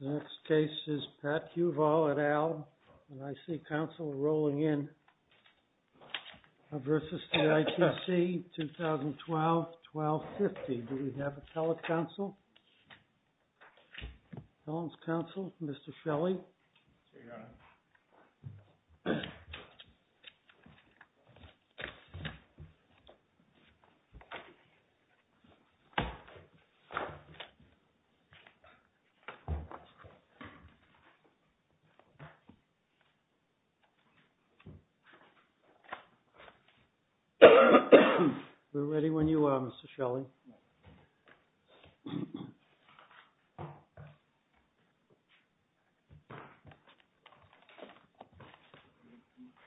Next case is Pat Huval at ALM and I see counsel rolling in. versus the ITC 2012-1250. Do we have a telecounsel? Telecounsel, Mr. Shelley We're ready when you are, Mr. Shelley We're ready when you are, Mr. Shelley We're ready when you are, Mr. Shelley We're ready when you are, Mr. Shelley We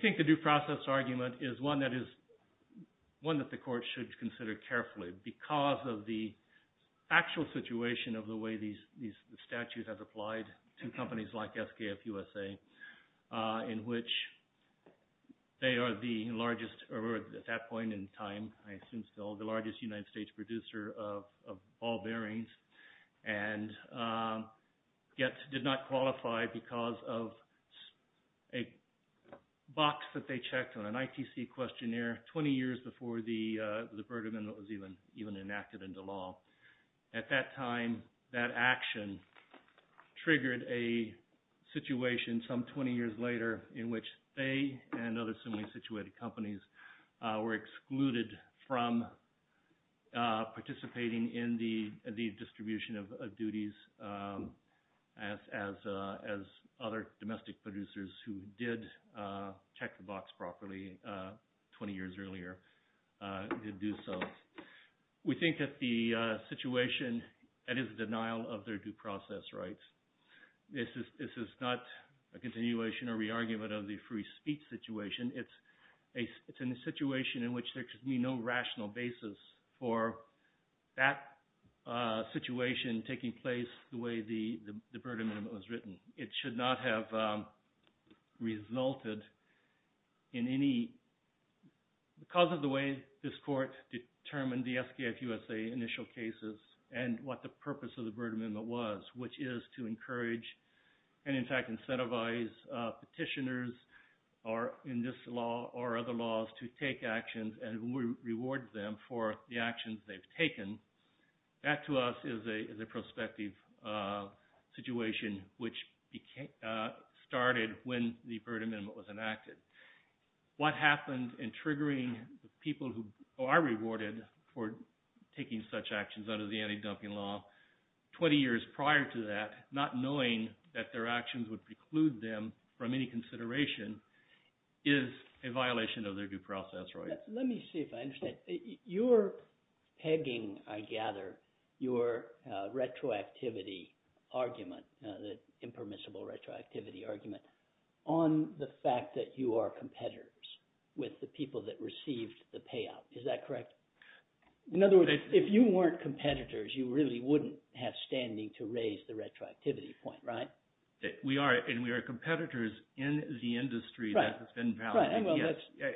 think the due process argument is one that the court should consider carefully because of the actual situation of the way these statutes have applied to companies like SKF USA in which they are the largest, or at that point in time, I assume still, the largest United States producer of ball bearings and yet did not qualify because of a box that they checked on an ITC questionnaire 20 years before the verdict was even enacted into law. At that time, that action triggered a situation some 20 years later in which they and other similarly situated companies were excluded from participating in the distribution of duties as other domestic producers who did check the box properly 20 years earlier did do so. We think that the situation that is denial of their due process rights, this is not a continuation or re-argument of the free speech situation, it's a situation in which there should be no rational basis for that situation taking place the way the burden of it was written. It should not have resulted in any, because of the way this court determined the SKF USA initial cases and what the purpose of the burden of it was, which is to encourage and in fact incentivize petitioners or in this law or other laws to take actions and reward them for the actions they've taken, that to us is a prospective situation which started when the third amendment was enacted. What happened in triggering people who are rewarded for taking such actions under the anti-dumping law 20 years prior to that, not knowing that their actions would preclude them from any consideration is a violation of their due process rights. Let me see if I understand. You're pegging, I gather, your retroactivity argument, the impermissible retroactivity argument, on the fact that you are competitors with the people that received the payout. Is that correct? In other words, if you weren't competitors, you really wouldn't have standing to raise the retroactivity point, right? We are, and we are competitors in the industry that has been valid.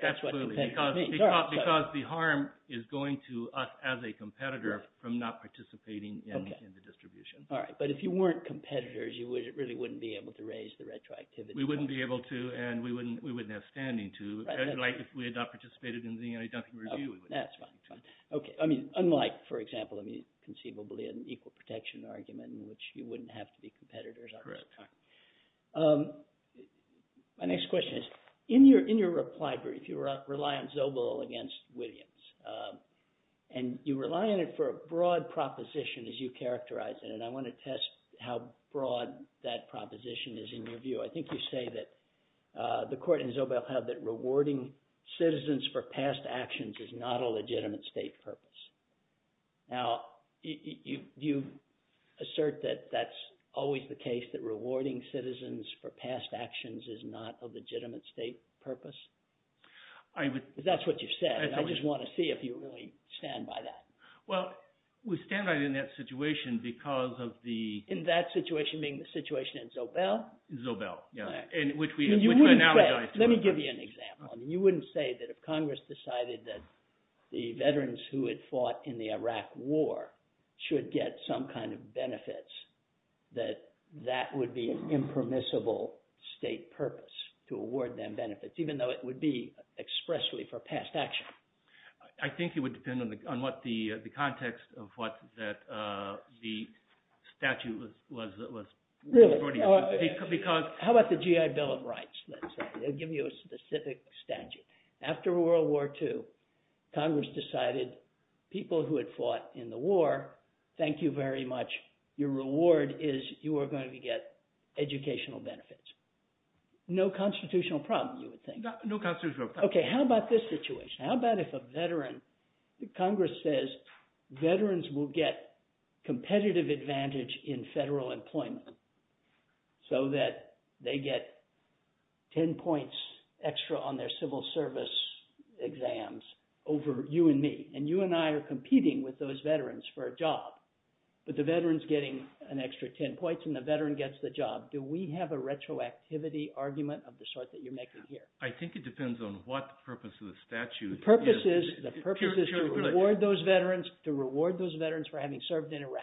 That's what competitors mean. Because the harm is going to us as a competitor from not participating in the distribution. All right, but if you weren't competitors, you really wouldn't be able to raise the retroactivity point. We wouldn't be able to, and we wouldn't have standing to. If we had not participated in the anti-dumping review, we wouldn't. That's fine. Okay, I mean, unlike, for example, conceivably an equal protection argument in which you wouldn't have to be competitors. Correct. My next question is, in your reply brief, you rely on Zobel against Williams, and you rely on it for a broad proposition as you characterize it, and I want to test how broad that proposition is in your view. I think you say that the court in Zobel had that rewarding citizens for past actions is not a legitimate state purpose. Now, do you assert that that's always the case, that rewarding citizens for past actions is not a legitimate state purpose? That's what you said, and I just want to see if you really stand by that. Well, we stand by it in that situation because of the – In that situation being the situation in Zobel? Zobel, yeah, which we analogize to it. Let me give you an example. You wouldn't say that if Congress decided that the veterans who had fought in the Iraq war should get some kind of benefits, that that would be an impermissible state purpose, to award them benefits, even though it would be expressly for past action. I think it would depend on what the context of what the statute was reporting. Really? How about the GI Bill of Rights? They'll give you a specific statute. After World War II, Congress decided people who had fought in the war, thank you very much. Your reward is you are going to get educational benefits. No constitutional problem, you would think. No constitutional problem. Okay, how about this situation? How about if a veteran – Congress says veterans will get competitive advantage in federal employment so that they get ten points extra on their civil service exams over you and me, and you and I are competing with those veterans for a job, but the veteran's getting an extra ten points and the veteran gets the job. Do we have a retroactivity argument of the sort that you're making here? I think it depends on what the purpose of the statute is. The purpose is to reward those veterans for having served in Iraq.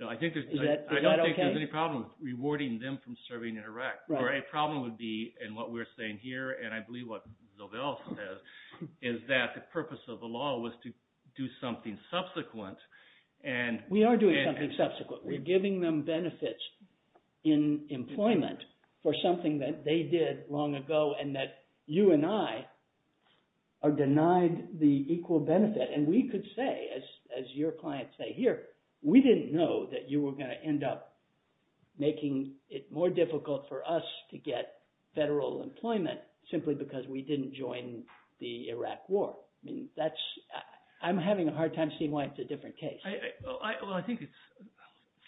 Is that okay? I don't think there's any problem rewarding them from serving in Iraq. The problem would be, and what we're saying here, and I believe what Zobel says is that the purpose of the law was to do something subsequent. We are doing something subsequent. We're giving them benefits in employment for something that they did long ago and that you and I are denied the equal benefit. And we could say, as your clients say here, we didn't know that you were going to end up making it more difficult for us to get federal employment simply because we didn't join the Iraq war. I'm having a hard time seeing why it's a different case. Well, I think it's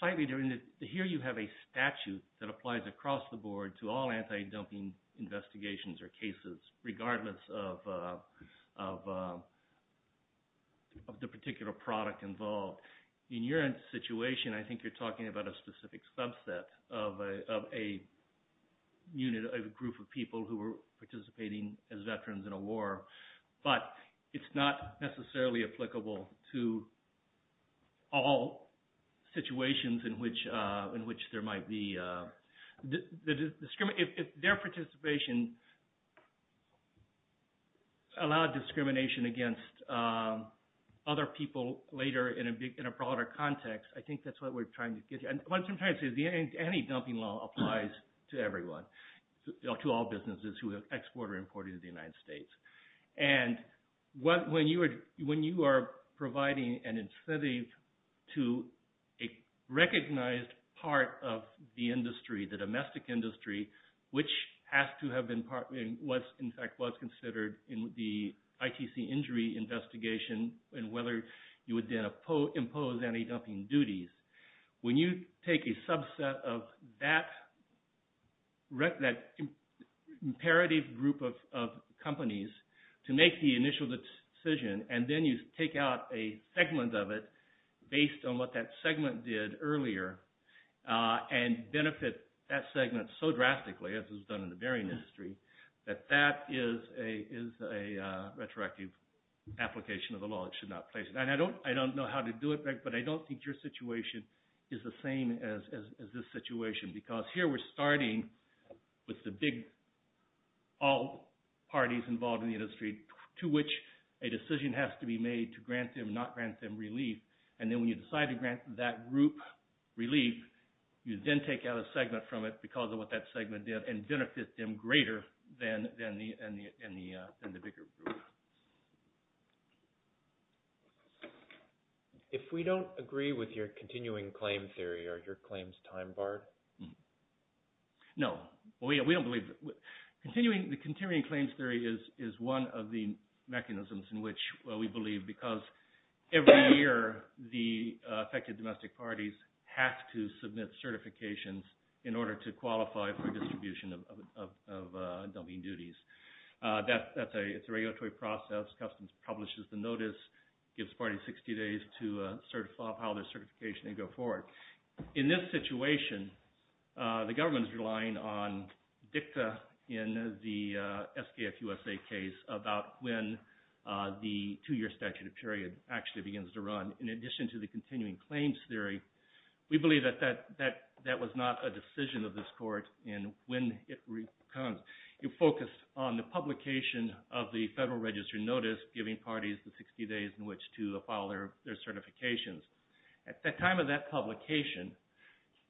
slightly different. Here you have a statute that applies across the board to all anti-dumping investigations or cases regardless of the particular product involved. In your situation, I think you're talking about a specific subset of a group of people who were participating as veterans in a war, but it's not necessarily applicable to all situations in which there might be discrimination. If their participation allowed discrimination against other people later in a broader context, I think that's what we're trying to get you. Anti-dumping law applies to everyone, to all businesses who have exported or imported to the United States. And when you are providing an incentive to a recognized part of the industry, the domestic industry, which has to have been, in fact was considered in the ITC injury investigation and whether you would then impose anti-dumping duties, when you take a subset of that imperative group of companies to make the initial decision and then you take out a segment of it based on what that segment did earlier and benefit that segment so drastically, as was done in the bearing industry, that that is a retroactive application of the law. It should not place it. I don't know how to do it, but I don't think your situation is the same as this situation, because here we're starting with the big, all parties involved in the industry to which a decision has to be made to grant them, not grant them relief. And then when you decide to grant that group relief, you then take out a segment from it because of what that segment did and benefit them greater than the bigger group. If we don't agree with your continuing claim theory, are your claims time barred? No. The continuing claims theory is one of the mechanisms in which we believe because every year the affected domestic parties have to submit certifications in order to qualify for distribution of dumping duties. It's a regulatory process. Customs publishes the notice. It gives parties 60 days to file their certification and go forward. In this situation, the government is relying on dicta in the SKF USA case about when the two-year statute of period actually begins to run. In addition to the continuing claims theory, we believe that that was not a decision of this court in when it becomes. It focused on the publication of the Federal Register notice giving parties the 60 days in which to file their certifications. At the time of that publication,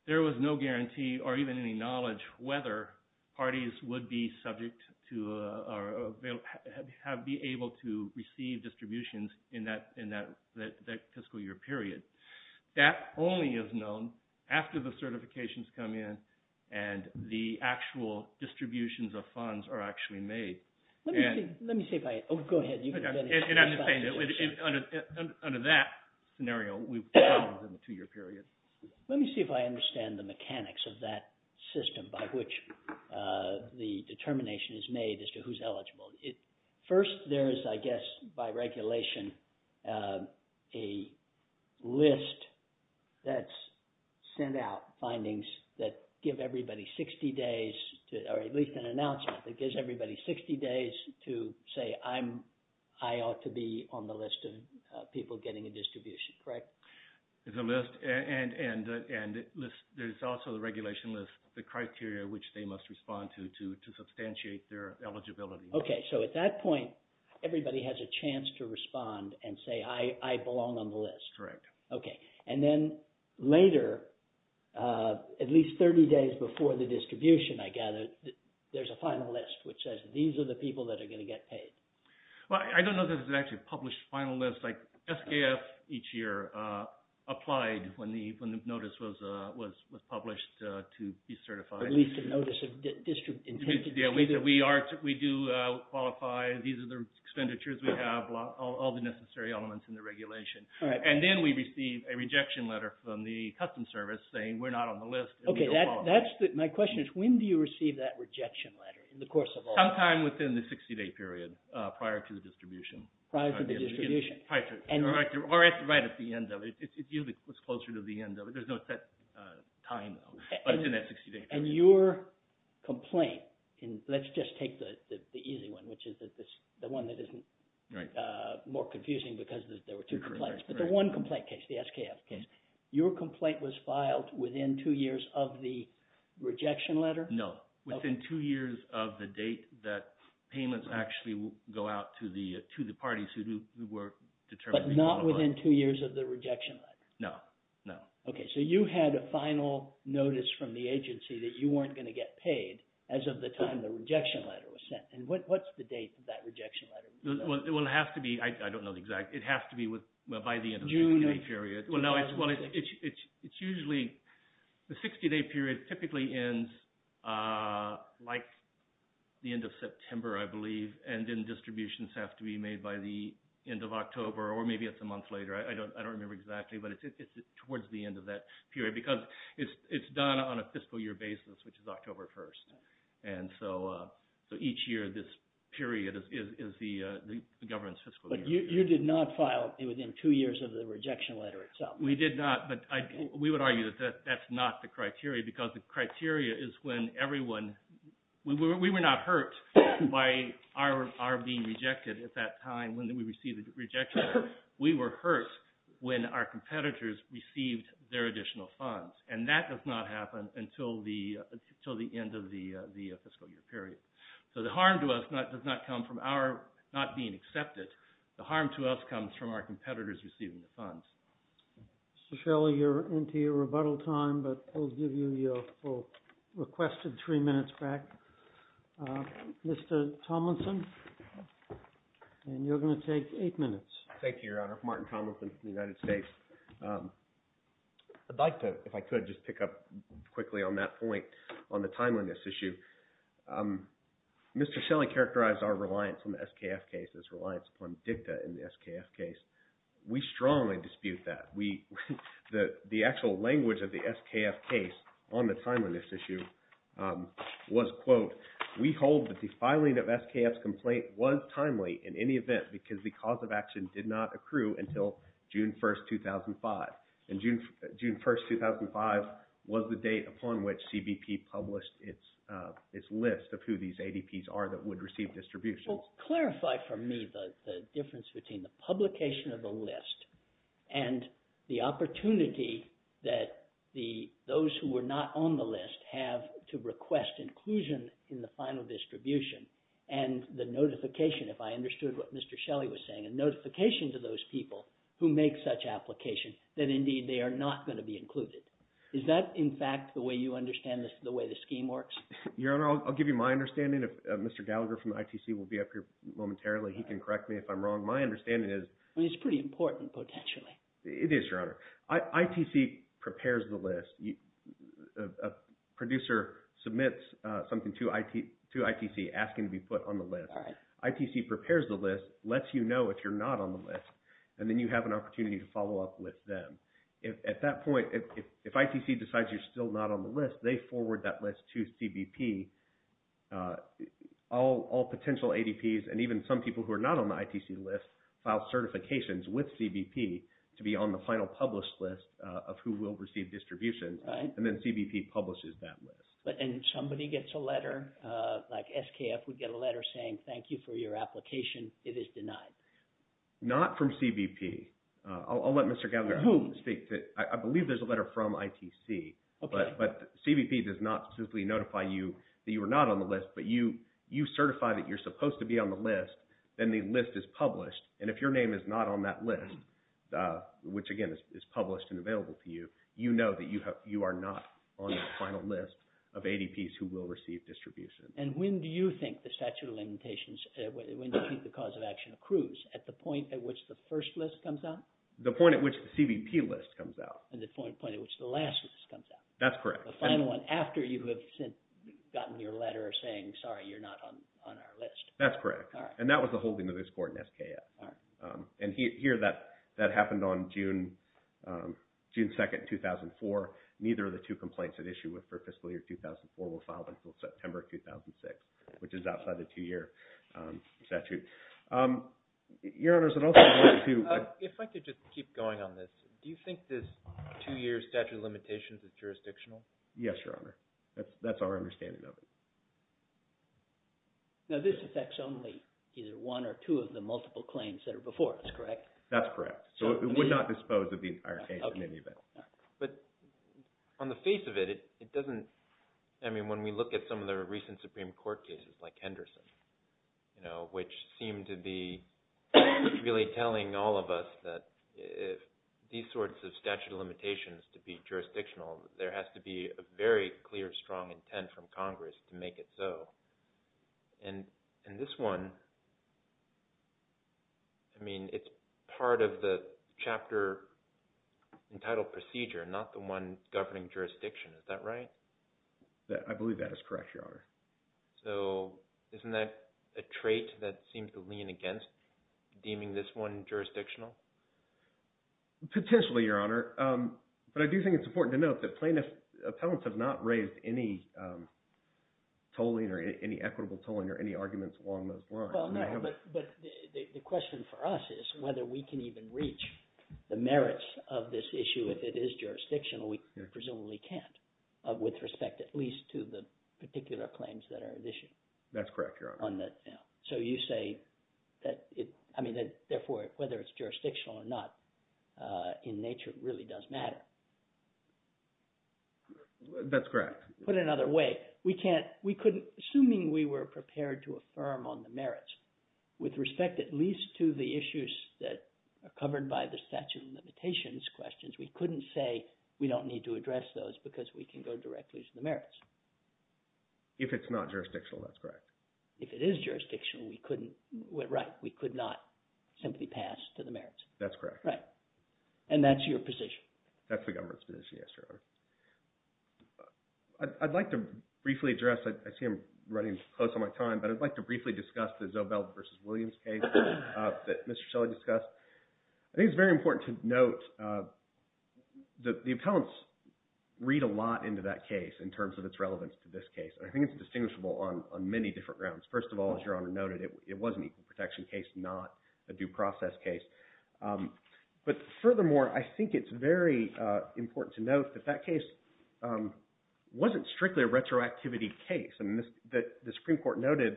there was no guarantee or even any knowledge whether parties would be subject to or be able to receive distributions in that fiscal year period. That only is known after the certifications come in and the actual distributions of funds are actually made. Let me see if I... Oh, go ahead. Under that scenario, we have a two-year period. Let me see if I understand the mechanics of that system by which the determination is made as to who's eligible. First, there is, I guess, by regulation, a list that's sent out, findings that give everybody 60 days or at least an announcement that gives everybody 60 days to say, I ought to be on the list of people getting a distribution, correct? There's a list and there's also the regulation list, the criteria which they must respond to to substantiate their eligibility. Okay, so at that point, everybody has a chance to respond and say, I belong on the list. Correct. Okay. And then later, at least 30 days before the distribution, I gather, there's a final list which says, these are the people that are going to get paid. Well, I don't know that it's actually a published final list. Like, SKF each year applied when the notice was published to be certified. At least a notice of intent. Yeah, we do qualify. These are the expenditures we have, all the necessary elements in the regulation. All right. And then we receive a rejection letter from the custom service saying, we're not on the list and we don't qualify. My question is, when do you receive that rejection letter in the course of all this? Sometime within the 60-day period prior to the distribution. Prior to the distribution. Or right at the end of it. It's usually closer to the end of it. There's no set time, but it's in that 60-day period. And your complaint, let's just take the easy one, which is the one that isn't more confusing because there were two complaints. But the one complaint case, the SKF case, your complaint was filed within two years of the rejection letter? No. Within two years of the date that payments actually go out to the parties who were determined to qualify. But not within two years of the rejection letter? No, no. Okay. So you had a final notice from the agency that you weren't going to get paid as of the time the rejection letter was sent. And what's the date of that rejection letter? Well, it has to be, I don't know the exact, it has to be by the end of the 60-day period. Well, no, it's usually the 60-day period typically ends like the end of September, I believe. And then distributions have to be made by the end of October or maybe it's a month later. I don't remember exactly, but it's towards the end of that period because it's done on a fiscal year basis, which is October 1st. And so each year this period is the government's fiscal year. But you did not file within two years of the rejection letter itself? We did not, but we would argue that that's not the criteria because the criteria is when everyone, we were not hurt by our being rejected at that time when we received the rejection letter. We were hurt when our competitors received their additional funds and that does not happen until the end of the fiscal year period. So the harm to us does not come from our not being accepted. The harm to us comes from our competitors receiving the funds. Mr. Shelley, you're into your rebuttal time, but we'll give you your requested three minutes back. Mr. Tomlinson, and you're going to take eight minutes. Thank you, Your Honor. Martin Tomlinson from the United States. I'd like to, if I could, just pick up quickly on that point on the timeliness issue. Mr. Shelley characterized our reliance on the SKF case as reliance upon DICTA in the SKF case. We strongly dispute that. The actual language of the SKF case on the timeliness issue was, quote, we hold that the filing of SKF's complaint was timely in any event because the cause of action did not accrue until June 1, 2005. And June 1, 2005 was the date upon which CBP published its list of who these ADPs are that would receive distributions. Well, clarify for me the difference between the publication of the list and the opportunity that those who were not on the list have to request inclusion in the final distribution and the notification, if I understood what Mr. Shelley was saying, a notification to those people who make such application that, indeed, they are not going to be included. Is that, in fact, the way you understand the way the scheme works? Your Honor, I'll give you my understanding. Mr. Gallagher from ITC will be up here momentarily. He can correct me if I'm wrong. My understanding is – It's pretty important, potentially. It is, Your Honor. ITC prepares the list. A producer submits something to ITC asking to be put on the list. ITC prepares the list, lets you know if you're not on the list, and then you have an opportunity to follow up with them. At that point, if ITC decides you're still not on the list, they forward that list to CBP. All potential ADPs and even some people who are not on the ITC list file certifications with CBP to be on the final published list of who will receive distributions. And then CBP publishes that list. Somebody gets a letter, like SKF would get a letter saying, thank you for your application. It is denied. Not from CBP. I'll let Mr. Gallagher speak. Who? I believe there's a letter from ITC. Okay. But CBP does not specifically notify you that you are not on the list, but you certify that you're supposed to be on the list, then the list is published. And if your name is not on that list, which, again, is published and available to you, you know that you are not on the final list of ADPs who will receive distributions. And when do you think the statute of limitations, when do you think the cause of action accrues? At the point at which the first list comes out? The point at which the CBP list comes out. And the point at which the last list comes out? That's correct. The final one after you have gotten your letter saying, sorry, you're not on our list. That's correct. And that was the holding of this court in SKF. And here that happened on June 2nd, 2004. Neither of the two complaints at issue for fiscal year 2004 were filed until September 2006, which is outside the two-year statute. Your Honors, I'd also like to... If I could just keep going on this. Do you think this two-year statute of limitations is jurisdictional? Yes, Your Honor. That's our understanding of it. Now this affects only either one or two of the multiple claims that are before us, correct? That's correct. So it would not dispose of the entire case in any event. But on the face of it, it doesn't... I mean, when we look at some of the recent Supreme Court cases like Henderson, which seem to be really telling all of us that these sorts of statute of limitations to be jurisdictional, there has to be a very clear, strong intent from Congress to make it so. And this one, I mean, it's part of the chapter entitled procedure, not the one governing jurisdiction. Is that right? I believe that is correct, Your Honor. So isn't that a trait that seems to lean against deeming this one jurisdictional? Potentially, Your Honor. But I do think it's important to note that plaintiffs' appellants have not raised any tolling or any equitable tolling or any arguments along those lines. Well, no, but the question for us is whether we can even reach the merits of this issue if it is jurisdictional. We presumably can't with respect at least to the particular claims that are at issue. That's correct, Your Honor. So you say that it – I mean, therefore, whether it's jurisdictional or not, in nature, it really does matter. That's correct. Put it another way, we can't – we couldn't – assuming we were prepared to affirm on the merits with respect at least to the issues that are covered by the statute of limitations questions, we couldn't say we don't need to address those because we can go directly to the merits. If it's not jurisdictional, that's correct. If it is jurisdictional, we couldn't – right, we could not simply pass to the merits. That's correct. Right. And that's your position. That's the government's position, yes, Your Honor. I'd like to briefly address – I see I'm running close on my time, but I'd like to briefly discuss the Zobel v. Williams case that Mr. Shelley discussed. I think it's very important to note that the appellants read a lot into that case in terms of its relevance to this case. I think it's distinguishable on many different grounds. First of all, as Your Honor noted, it was an equal protection case, not a due process case. But furthermore, I think it's very important to note that that case wasn't strictly a retroactivity case. The Supreme Court noted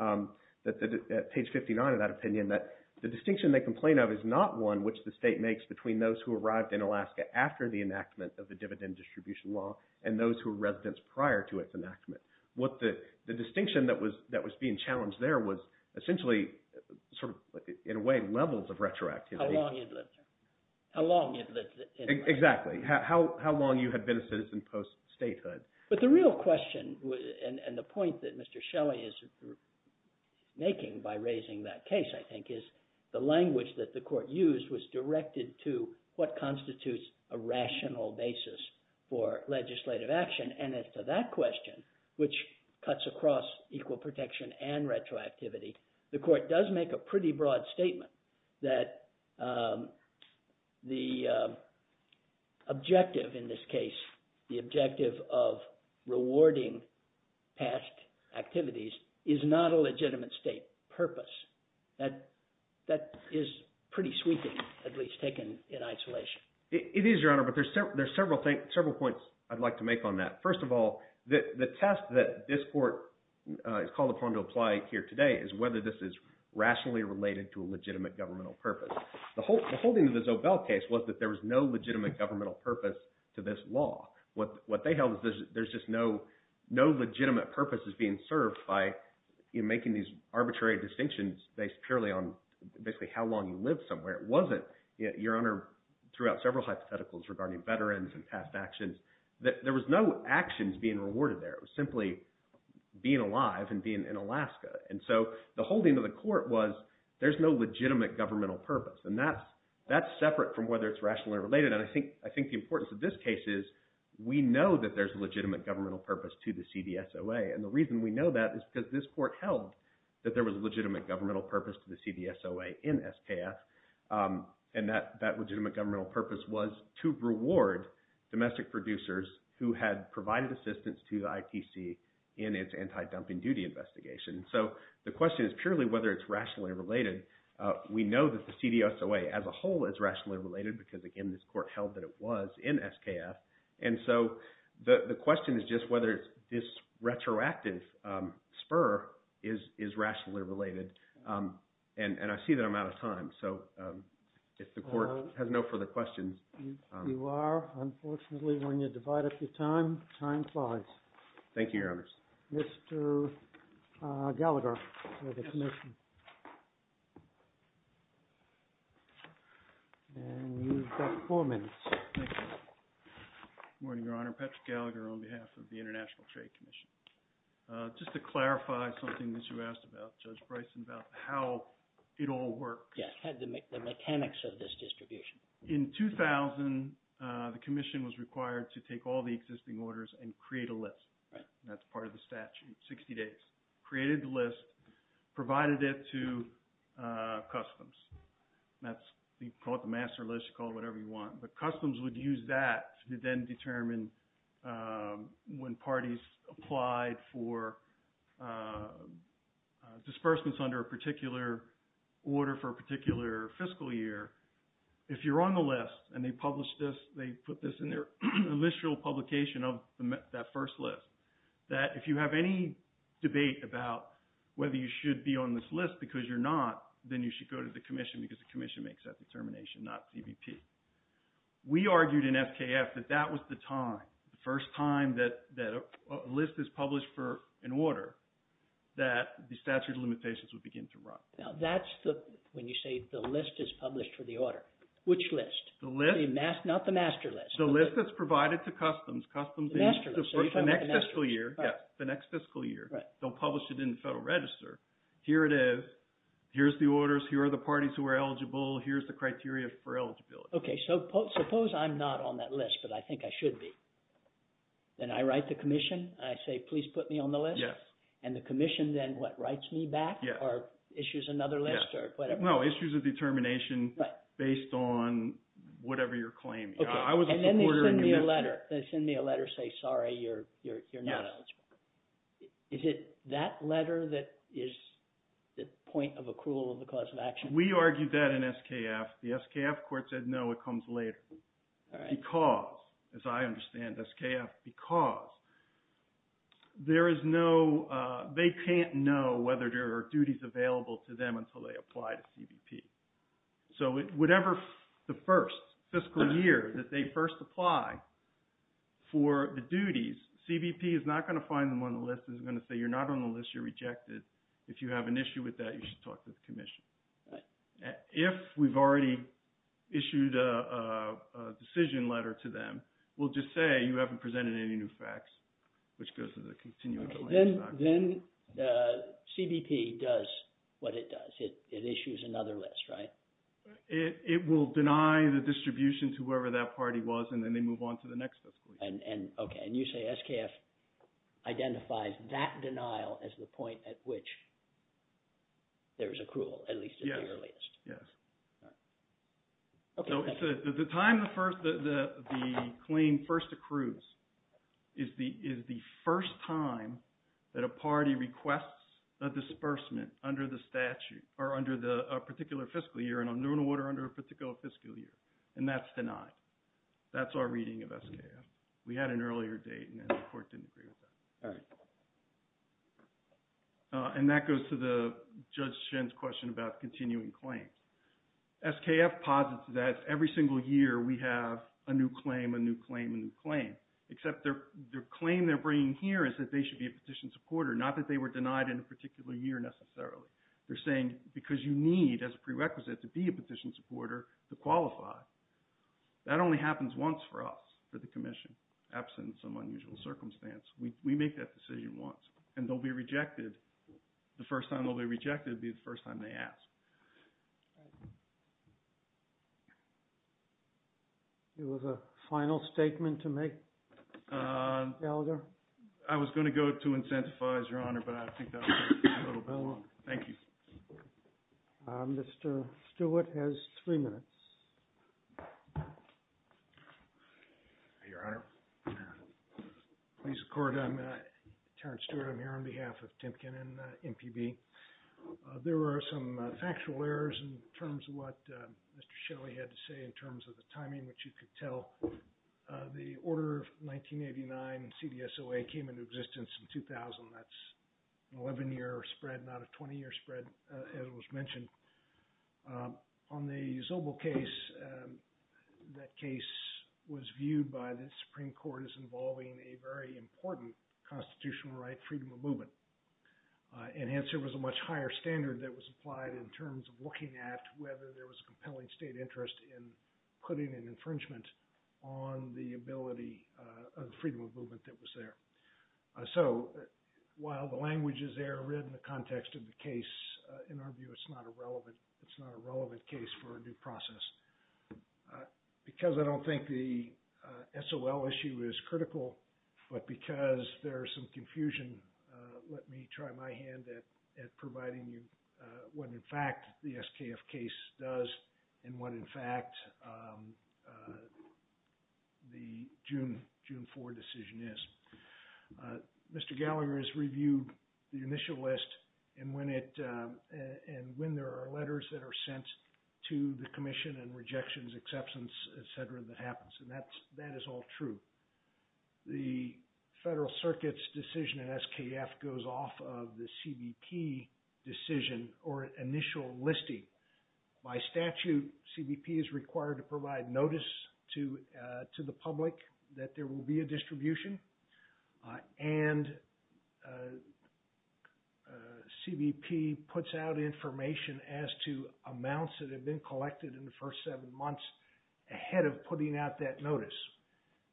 at page 59 of that opinion that the distinction they complain of is not one which the state makes between those who arrived in Alaska after the enactment of the dividend distribution law and those who were residents prior to its enactment. The distinction that was being challenged there was essentially sort of, in a way, levels of retroactivity. How long you'd lived there. How long you'd lived in Alaska. Exactly. How long you had been a citizen post-statehood. But the real question and the point that Mr. Shelley is making by raising that case, I think, is the language that the court used was directed to what constitutes a rational basis for legislative action. And as to that question, which cuts across equal protection and retroactivity, the court does make a pretty broad statement that the objective in this case, the objective of rewarding past activities, is not a legitimate state purpose. That is pretty sweeping, at least taken in isolation. It is, Your Honor. But there's several points I'd like to make on that. First of all, the test that this court is called upon to apply here today is whether this is rationally related to a legitimate governmental purpose. The holding of the Zobel case was that there was no legitimate governmental purpose to this law. What they held is there's just no legitimate purpose is being served by making these arbitrary distinctions based purely on basically how long you lived somewhere. It wasn't, Your Honor, throughout several hypotheticals regarding veterans and past actions, that there was no actions being rewarded there. It was simply being alive and being in Alaska. And so the holding of the court was there's no legitimate governmental purpose, and that's separate from whether it's rationally related. And I think the importance of this case is we know that there's a legitimate governmental purpose to the CDSOA, and the reason we know that is because this court held that there was a legitimate governmental purpose to the CDSOA in SKF, and that legitimate governmental purpose was to reward domestic producers who had provided assistance to the ITC in its anti-dumping duty investigation. So the question is purely whether it's rationally related. We know that the CDSOA as a whole is rationally related because, again, this court held that it was in SKF. And so the question is just whether this retroactive spur is rationally related. And I see that I'm out of time, so if the court has no further questions. You are. Unfortunately, when you divide up your time, time flies. Thank you, Your Honors. Mr. Gallagher for the commission. And you've got four minutes. Good morning, Your Honor. Patrick Gallagher on behalf of the International Trade Commission. Just to clarify something that you asked about, Judge Bryson, about how it all works. Yes, the mechanics of this distribution. In 2000, the commission was required to take all the existing orders and create a list. That's part of the statute, 60 days. Created the list, provided it to customs. That's called the master list, you call it whatever you want. The customs would use that to then determine when parties applied for disbursements under a particular order for a particular fiscal year. If you're on the list and they publish this, they put this in their initial publication of that first list, that if you have any debate about whether you should be on this list because you're not, then you should go to the commission because the commission makes that determination, not CBP. We argued in FKF that that was the time, the first time that a list is published for an order that the statute of limitations would begin to run. Now that's when you say the list is published for the order. Which list? The list. Not the master list. The list that's provided to customs. The master list. The next fiscal year. Yes, the next fiscal year. Right. They'll publish it in the Federal Register. Here it is. Here's the orders. Here are the parties who are eligible. Here's the criteria for eligibility. Okay, so suppose I'm not on that list, but I think I should be. Then I write the commission. I say, please put me on the list. Yes. And the commission then, what, writes me back or issues another list or whatever? No, issues a determination based on whatever you're claiming. Okay. And then they send me a letter. They send me a letter saying, sorry, you're not eligible. Is it that letter that is the point of accrual of the cause of action? We argued that in SKF. The SKF court said, no, it comes later because, as I understand SKF, because there is no – they can't know whether there are duties available to them until they apply to CBP. So whatever the first fiscal year that they first apply for the duties, CBP is not going to find them on the list. It's going to say, you're not on the list. You're rejected. If you have an issue with that, you should talk to the commission. Right. If we've already issued a decision letter to them, we'll just say you haven't presented any new facts, which goes to the continuation. Then CBP does what it does. It issues another list, right? It will deny the distribution to whoever that party was, and then they move on to the next fiscal year. Okay. And you say SKF identifies that denial as the point at which there is accrual, at least at the earliest. Yes. The time the claim first accrues is the first time that a party requests a disbursement under the statute or under a particular fiscal year and a new order under a particular fiscal year, and that's denied. That's our reading of SKF. We had an earlier date, and the court didn't agree with that. All right. And that goes to Judge Shen's question about continuing claims. SKF posits that every single year we have a new claim, a new claim, a new claim, except their claim they're bringing here is that they should be a petition supporter, not that they were denied in a particular year necessarily. They're saying because you need as a prerequisite to be a petition supporter to qualify. That only happens once for us, for the commission, absent some unusual circumstance. We make that decision once, and they'll be rejected. The first time they'll be rejected will be the first time they ask. There was a final statement to make, Gallagher? I was going to go to incentivize, Your Honor, but I think that was a little bellow. Thank you. Mr. Stewart has three minutes. Your Honor, please accord. I'm Terrence Stewart. I'm here on behalf of Timken and MPB. There were some factual errors in terms of what Mr. Shelley had to say in terms of the timing, which you could tell. The order of 1989, CDSOA, came into existence in 2000. That's an 11-year spread, not a 20-year spread, as was mentioned. On the Zobel case, that case was viewed by the Supreme Court as involving a very important constitutional right, freedom of movement. And hence there was a much higher standard that was applied in terms of looking at whether there was a compelling state interest in putting an infringement on the ability of freedom of movement that was there. So while the languages there are written in the context of the case, in our view, it's not a relevant case for a new process. Because I don't think the SOL issue is critical, but because there is some confusion, let me try my hand at providing you what, in fact, the SKF case does and what, in fact, the June 4 decision is. Mr. Gallagher has reviewed the initial list and when there are letters that are sent to the Commission and rejections, exceptions, et cetera, that happens. And that is all true. The Federal Circuit's decision in SKF goes off of the CBP decision or initial listing. By statute, CBP is required to provide notice to the public that there will be a distribution and CBP puts out information as to amounts that have been collected in the first seven months ahead of putting out that notice.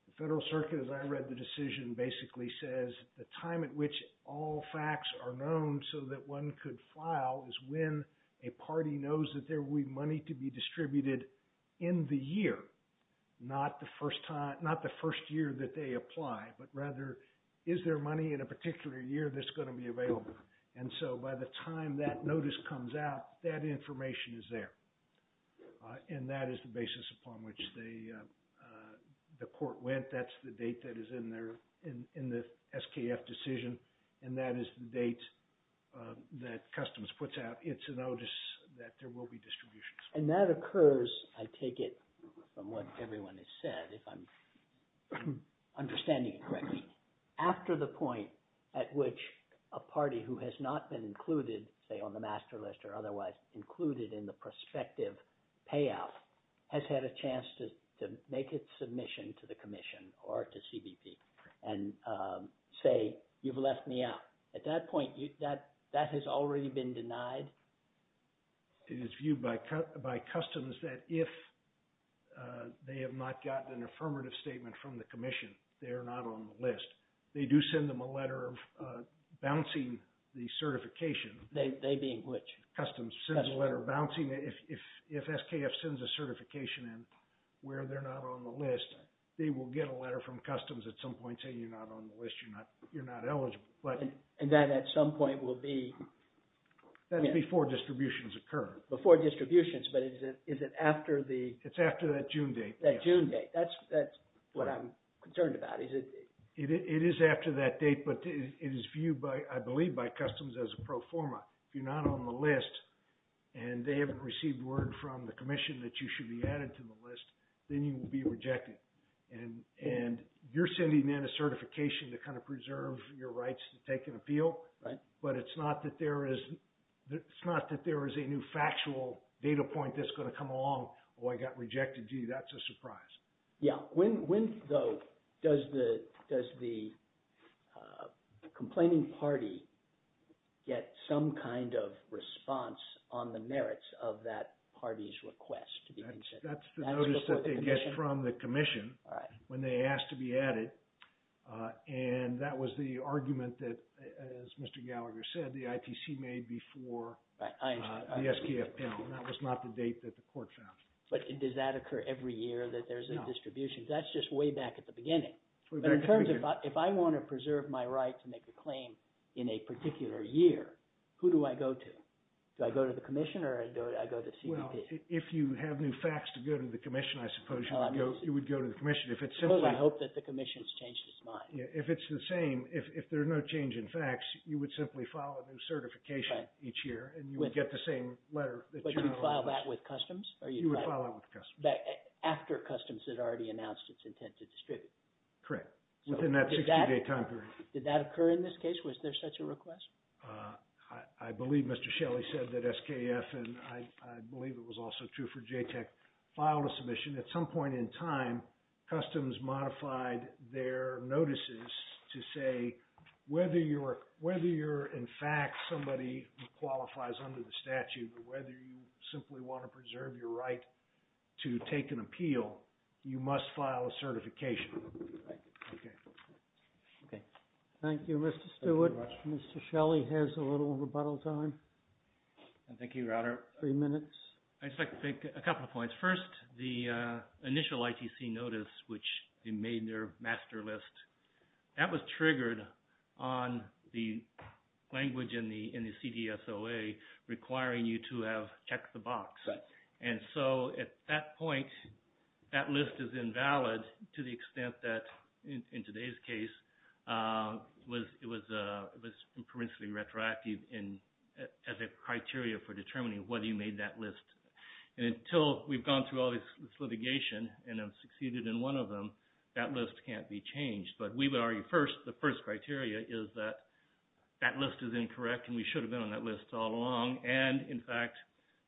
The Federal Circuit, as I read the decision, basically says the time at which all facts are known so that one could file is when a party knows that there will be money to be distributed in the year, not the first year that they apply, but rather is there money in a particular year that's going to be available. And so by the time that notice comes out, that information is there. And that is the basis upon which the court went. That's the date that is in the SKF decision. And that is the date that Customs puts out its notice that there will be distributions. And that occurs, I take it, from what everyone has said, if I'm understanding it correctly, after the point at which a party who has not been included, say, on the master list or otherwise included in the prospective payout has had a chance to make its submission to the Commission or to CBP and say, you've left me out. At that point, that has already been denied? It is viewed by Customs that if they have not gotten an affirmative statement from the Commission, they are not on the list. They do send them a letter of bouncing the certification. Customs sends a letter of bouncing. If SKF sends a certification where they're not on the list, they will get a letter from Customs at some point saying you're not on the list, you're not eligible. And that at some point will be? That's before distributions occur. Before distributions, but is it after the? It's after that June date. That June date. That's what I'm concerned about. It is after that date, but it is viewed, I believe, by Customs as a pro forma. If you're not on the list and they haven't received word from the Commission that you should be added to the list, then you will be rejected. And you're sending in a certification to kind of preserve your rights to take an appeal. Right. But it's not that there is a new factual data point that's going to come along. Oh, I got rejected. Gee, that's a surprise. When, though, does the complaining party get some kind of response on the merits of that party's request? That's the notice that they get from the Commission when they ask to be added. And that was the argument that, as Mr. Gallagher said, the ITC made before the SKF panel. That was not the date that the court found. But does that occur every year that there's a distribution? That's just way back at the beginning. But in terms of if I want to preserve my right to make a claim in a particular year, who do I go to? Do I go to the Commission or do I go to the CPD? Well, if you have new facts to go to the Commission, I suppose you would go to the Commission. I suppose I hope that the Commission has changed its mind. If it's the same, if there's no change in facts, you would simply file a new certification each year and you would get the same letter that you're on the list. But you would file that with Customs? You would file that with Customs. After Customs had already announced its intent to distribute? Correct, within that 60-day time period. Did that occur in this case? Was there such a request? I believe Mr. Shelley said that SKF, and I believe it was also true for JTAC, filed a submission. At some point in time, Customs modified their notices to say whether you're in fact somebody who qualifies under the statute or whether you simply want to preserve your right to take an appeal, you must file a certification. Thank you, Mr. Stewart. Thank you very much. Mr. Shelley has a little rebuttal time. Thank you, Your Honor. Three minutes. I'd just like to make a couple of points. First, the initial ITC notice, which they made their master list, that was triggered on the language in the CDSOA requiring you to have checked the box. And so at that point, that list is invalid to the extent that, in today's case, it was principally retroactive as a criteria for determining whether you made that list. And until we've gone through all this litigation and have succeeded in one of them, that list can't be changed. But we would argue first, the first criteria is that that list is incorrect and we should have been on that list all along. And in fact,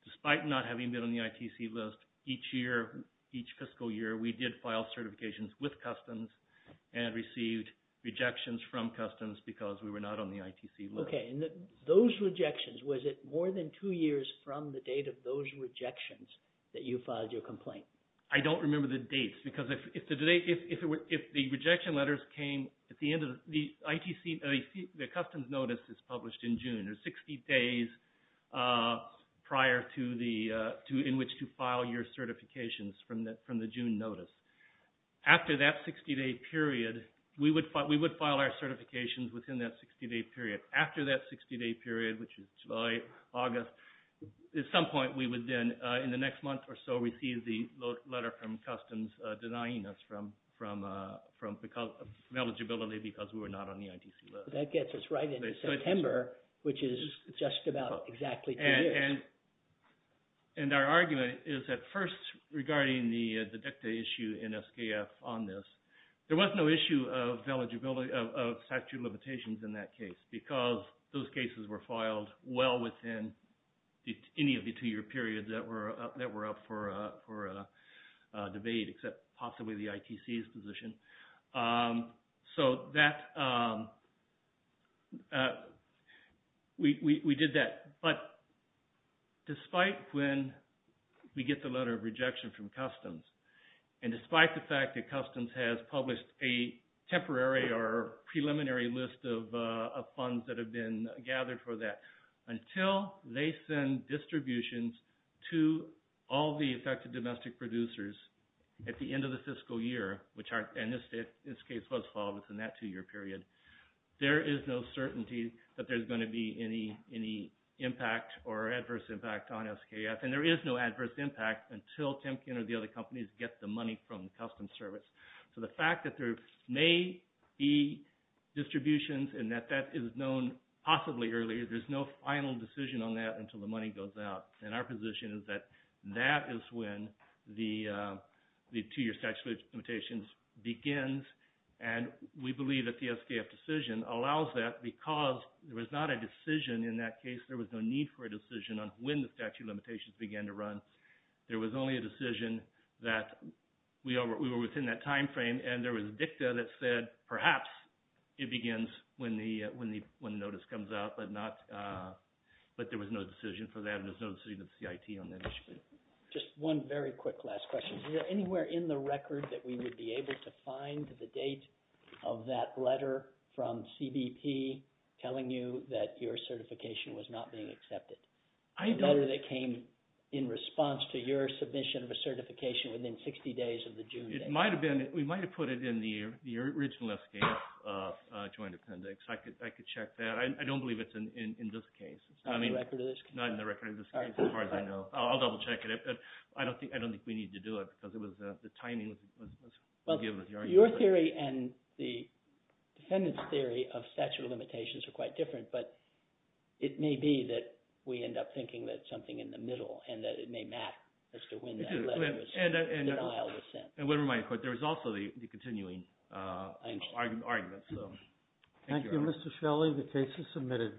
despite not having been on the ITC list each fiscal year, we did file certifications with Customs and received rejections from Customs because we were not on the ITC list. Those rejections, was it more than two years from the date of those rejections that you filed your complaint? I don't remember the dates because if the rejection letters came at the end of the ITC, the Customs notice is published in June. There's 60 days prior in which to file your certifications from the June notice. After that 60-day period, we would file our certifications within that 60-day period. After that 60-day period, which is July, August, at some point we would then in the next month or so receive the letter from Customs denying us from eligibility because we were not on the ITC list. That gets us right into September, which is just about exactly two years. And our argument is that first, regarding the DECTA issue in SKF on this, there was no issue of statute of limitations in that case because those cases were filed well within any of the two-year periods that were up for debate except possibly the ITC's position. So we did that. But despite when we get the letter of rejection from Customs and despite the fact that Customs has published a temporary or preliminary list of funds that have been gathered for that, until they send distributions to all the affected domestic producers at the end of the fiscal year, which in this case was filed within that two-year period, there is no certainty that there's going to be any impact or adverse impact on SKF. And there is no adverse impact until Timken or the other companies get the money from Customs service. So the fact that there may be distributions and that that is known possibly earlier, there's no final decision on that until the money goes out. And our position is that that is when the two-year statute of limitations begins. And we believe that the SKF decision allows that because there was not a decision in that case. There was no need for a decision on when the statute of limitations began to run. There was only a decision that we were within that time frame and there was a dicta that said perhaps it begins when the notice comes out, but there was no decision for that and there's no decision of CIT on that issue. Just one very quick last question. Is there anywhere in the record that we would be able to find the date of that letter from CBP telling you that your certification was not being accepted? The letter that came in response to your submission of a certification within 60 days of the June date. It might have been. We might have put it in the original SKF Joint Appendix. I could check that. I don't believe it's in this case. It's not in the record of this case? Not in the record of this case as far as I know. I'll double check it. I don't think we need to do it because the timing was given. Your theory and the defendant's theory of statute of limitations are quite different, but it may be that we end up thinking that something in the middle and that it may matter as to when that letter was sent and how it was sent. There is also the continuing argument. Thank you, Mr. Shelley. The case is submitted.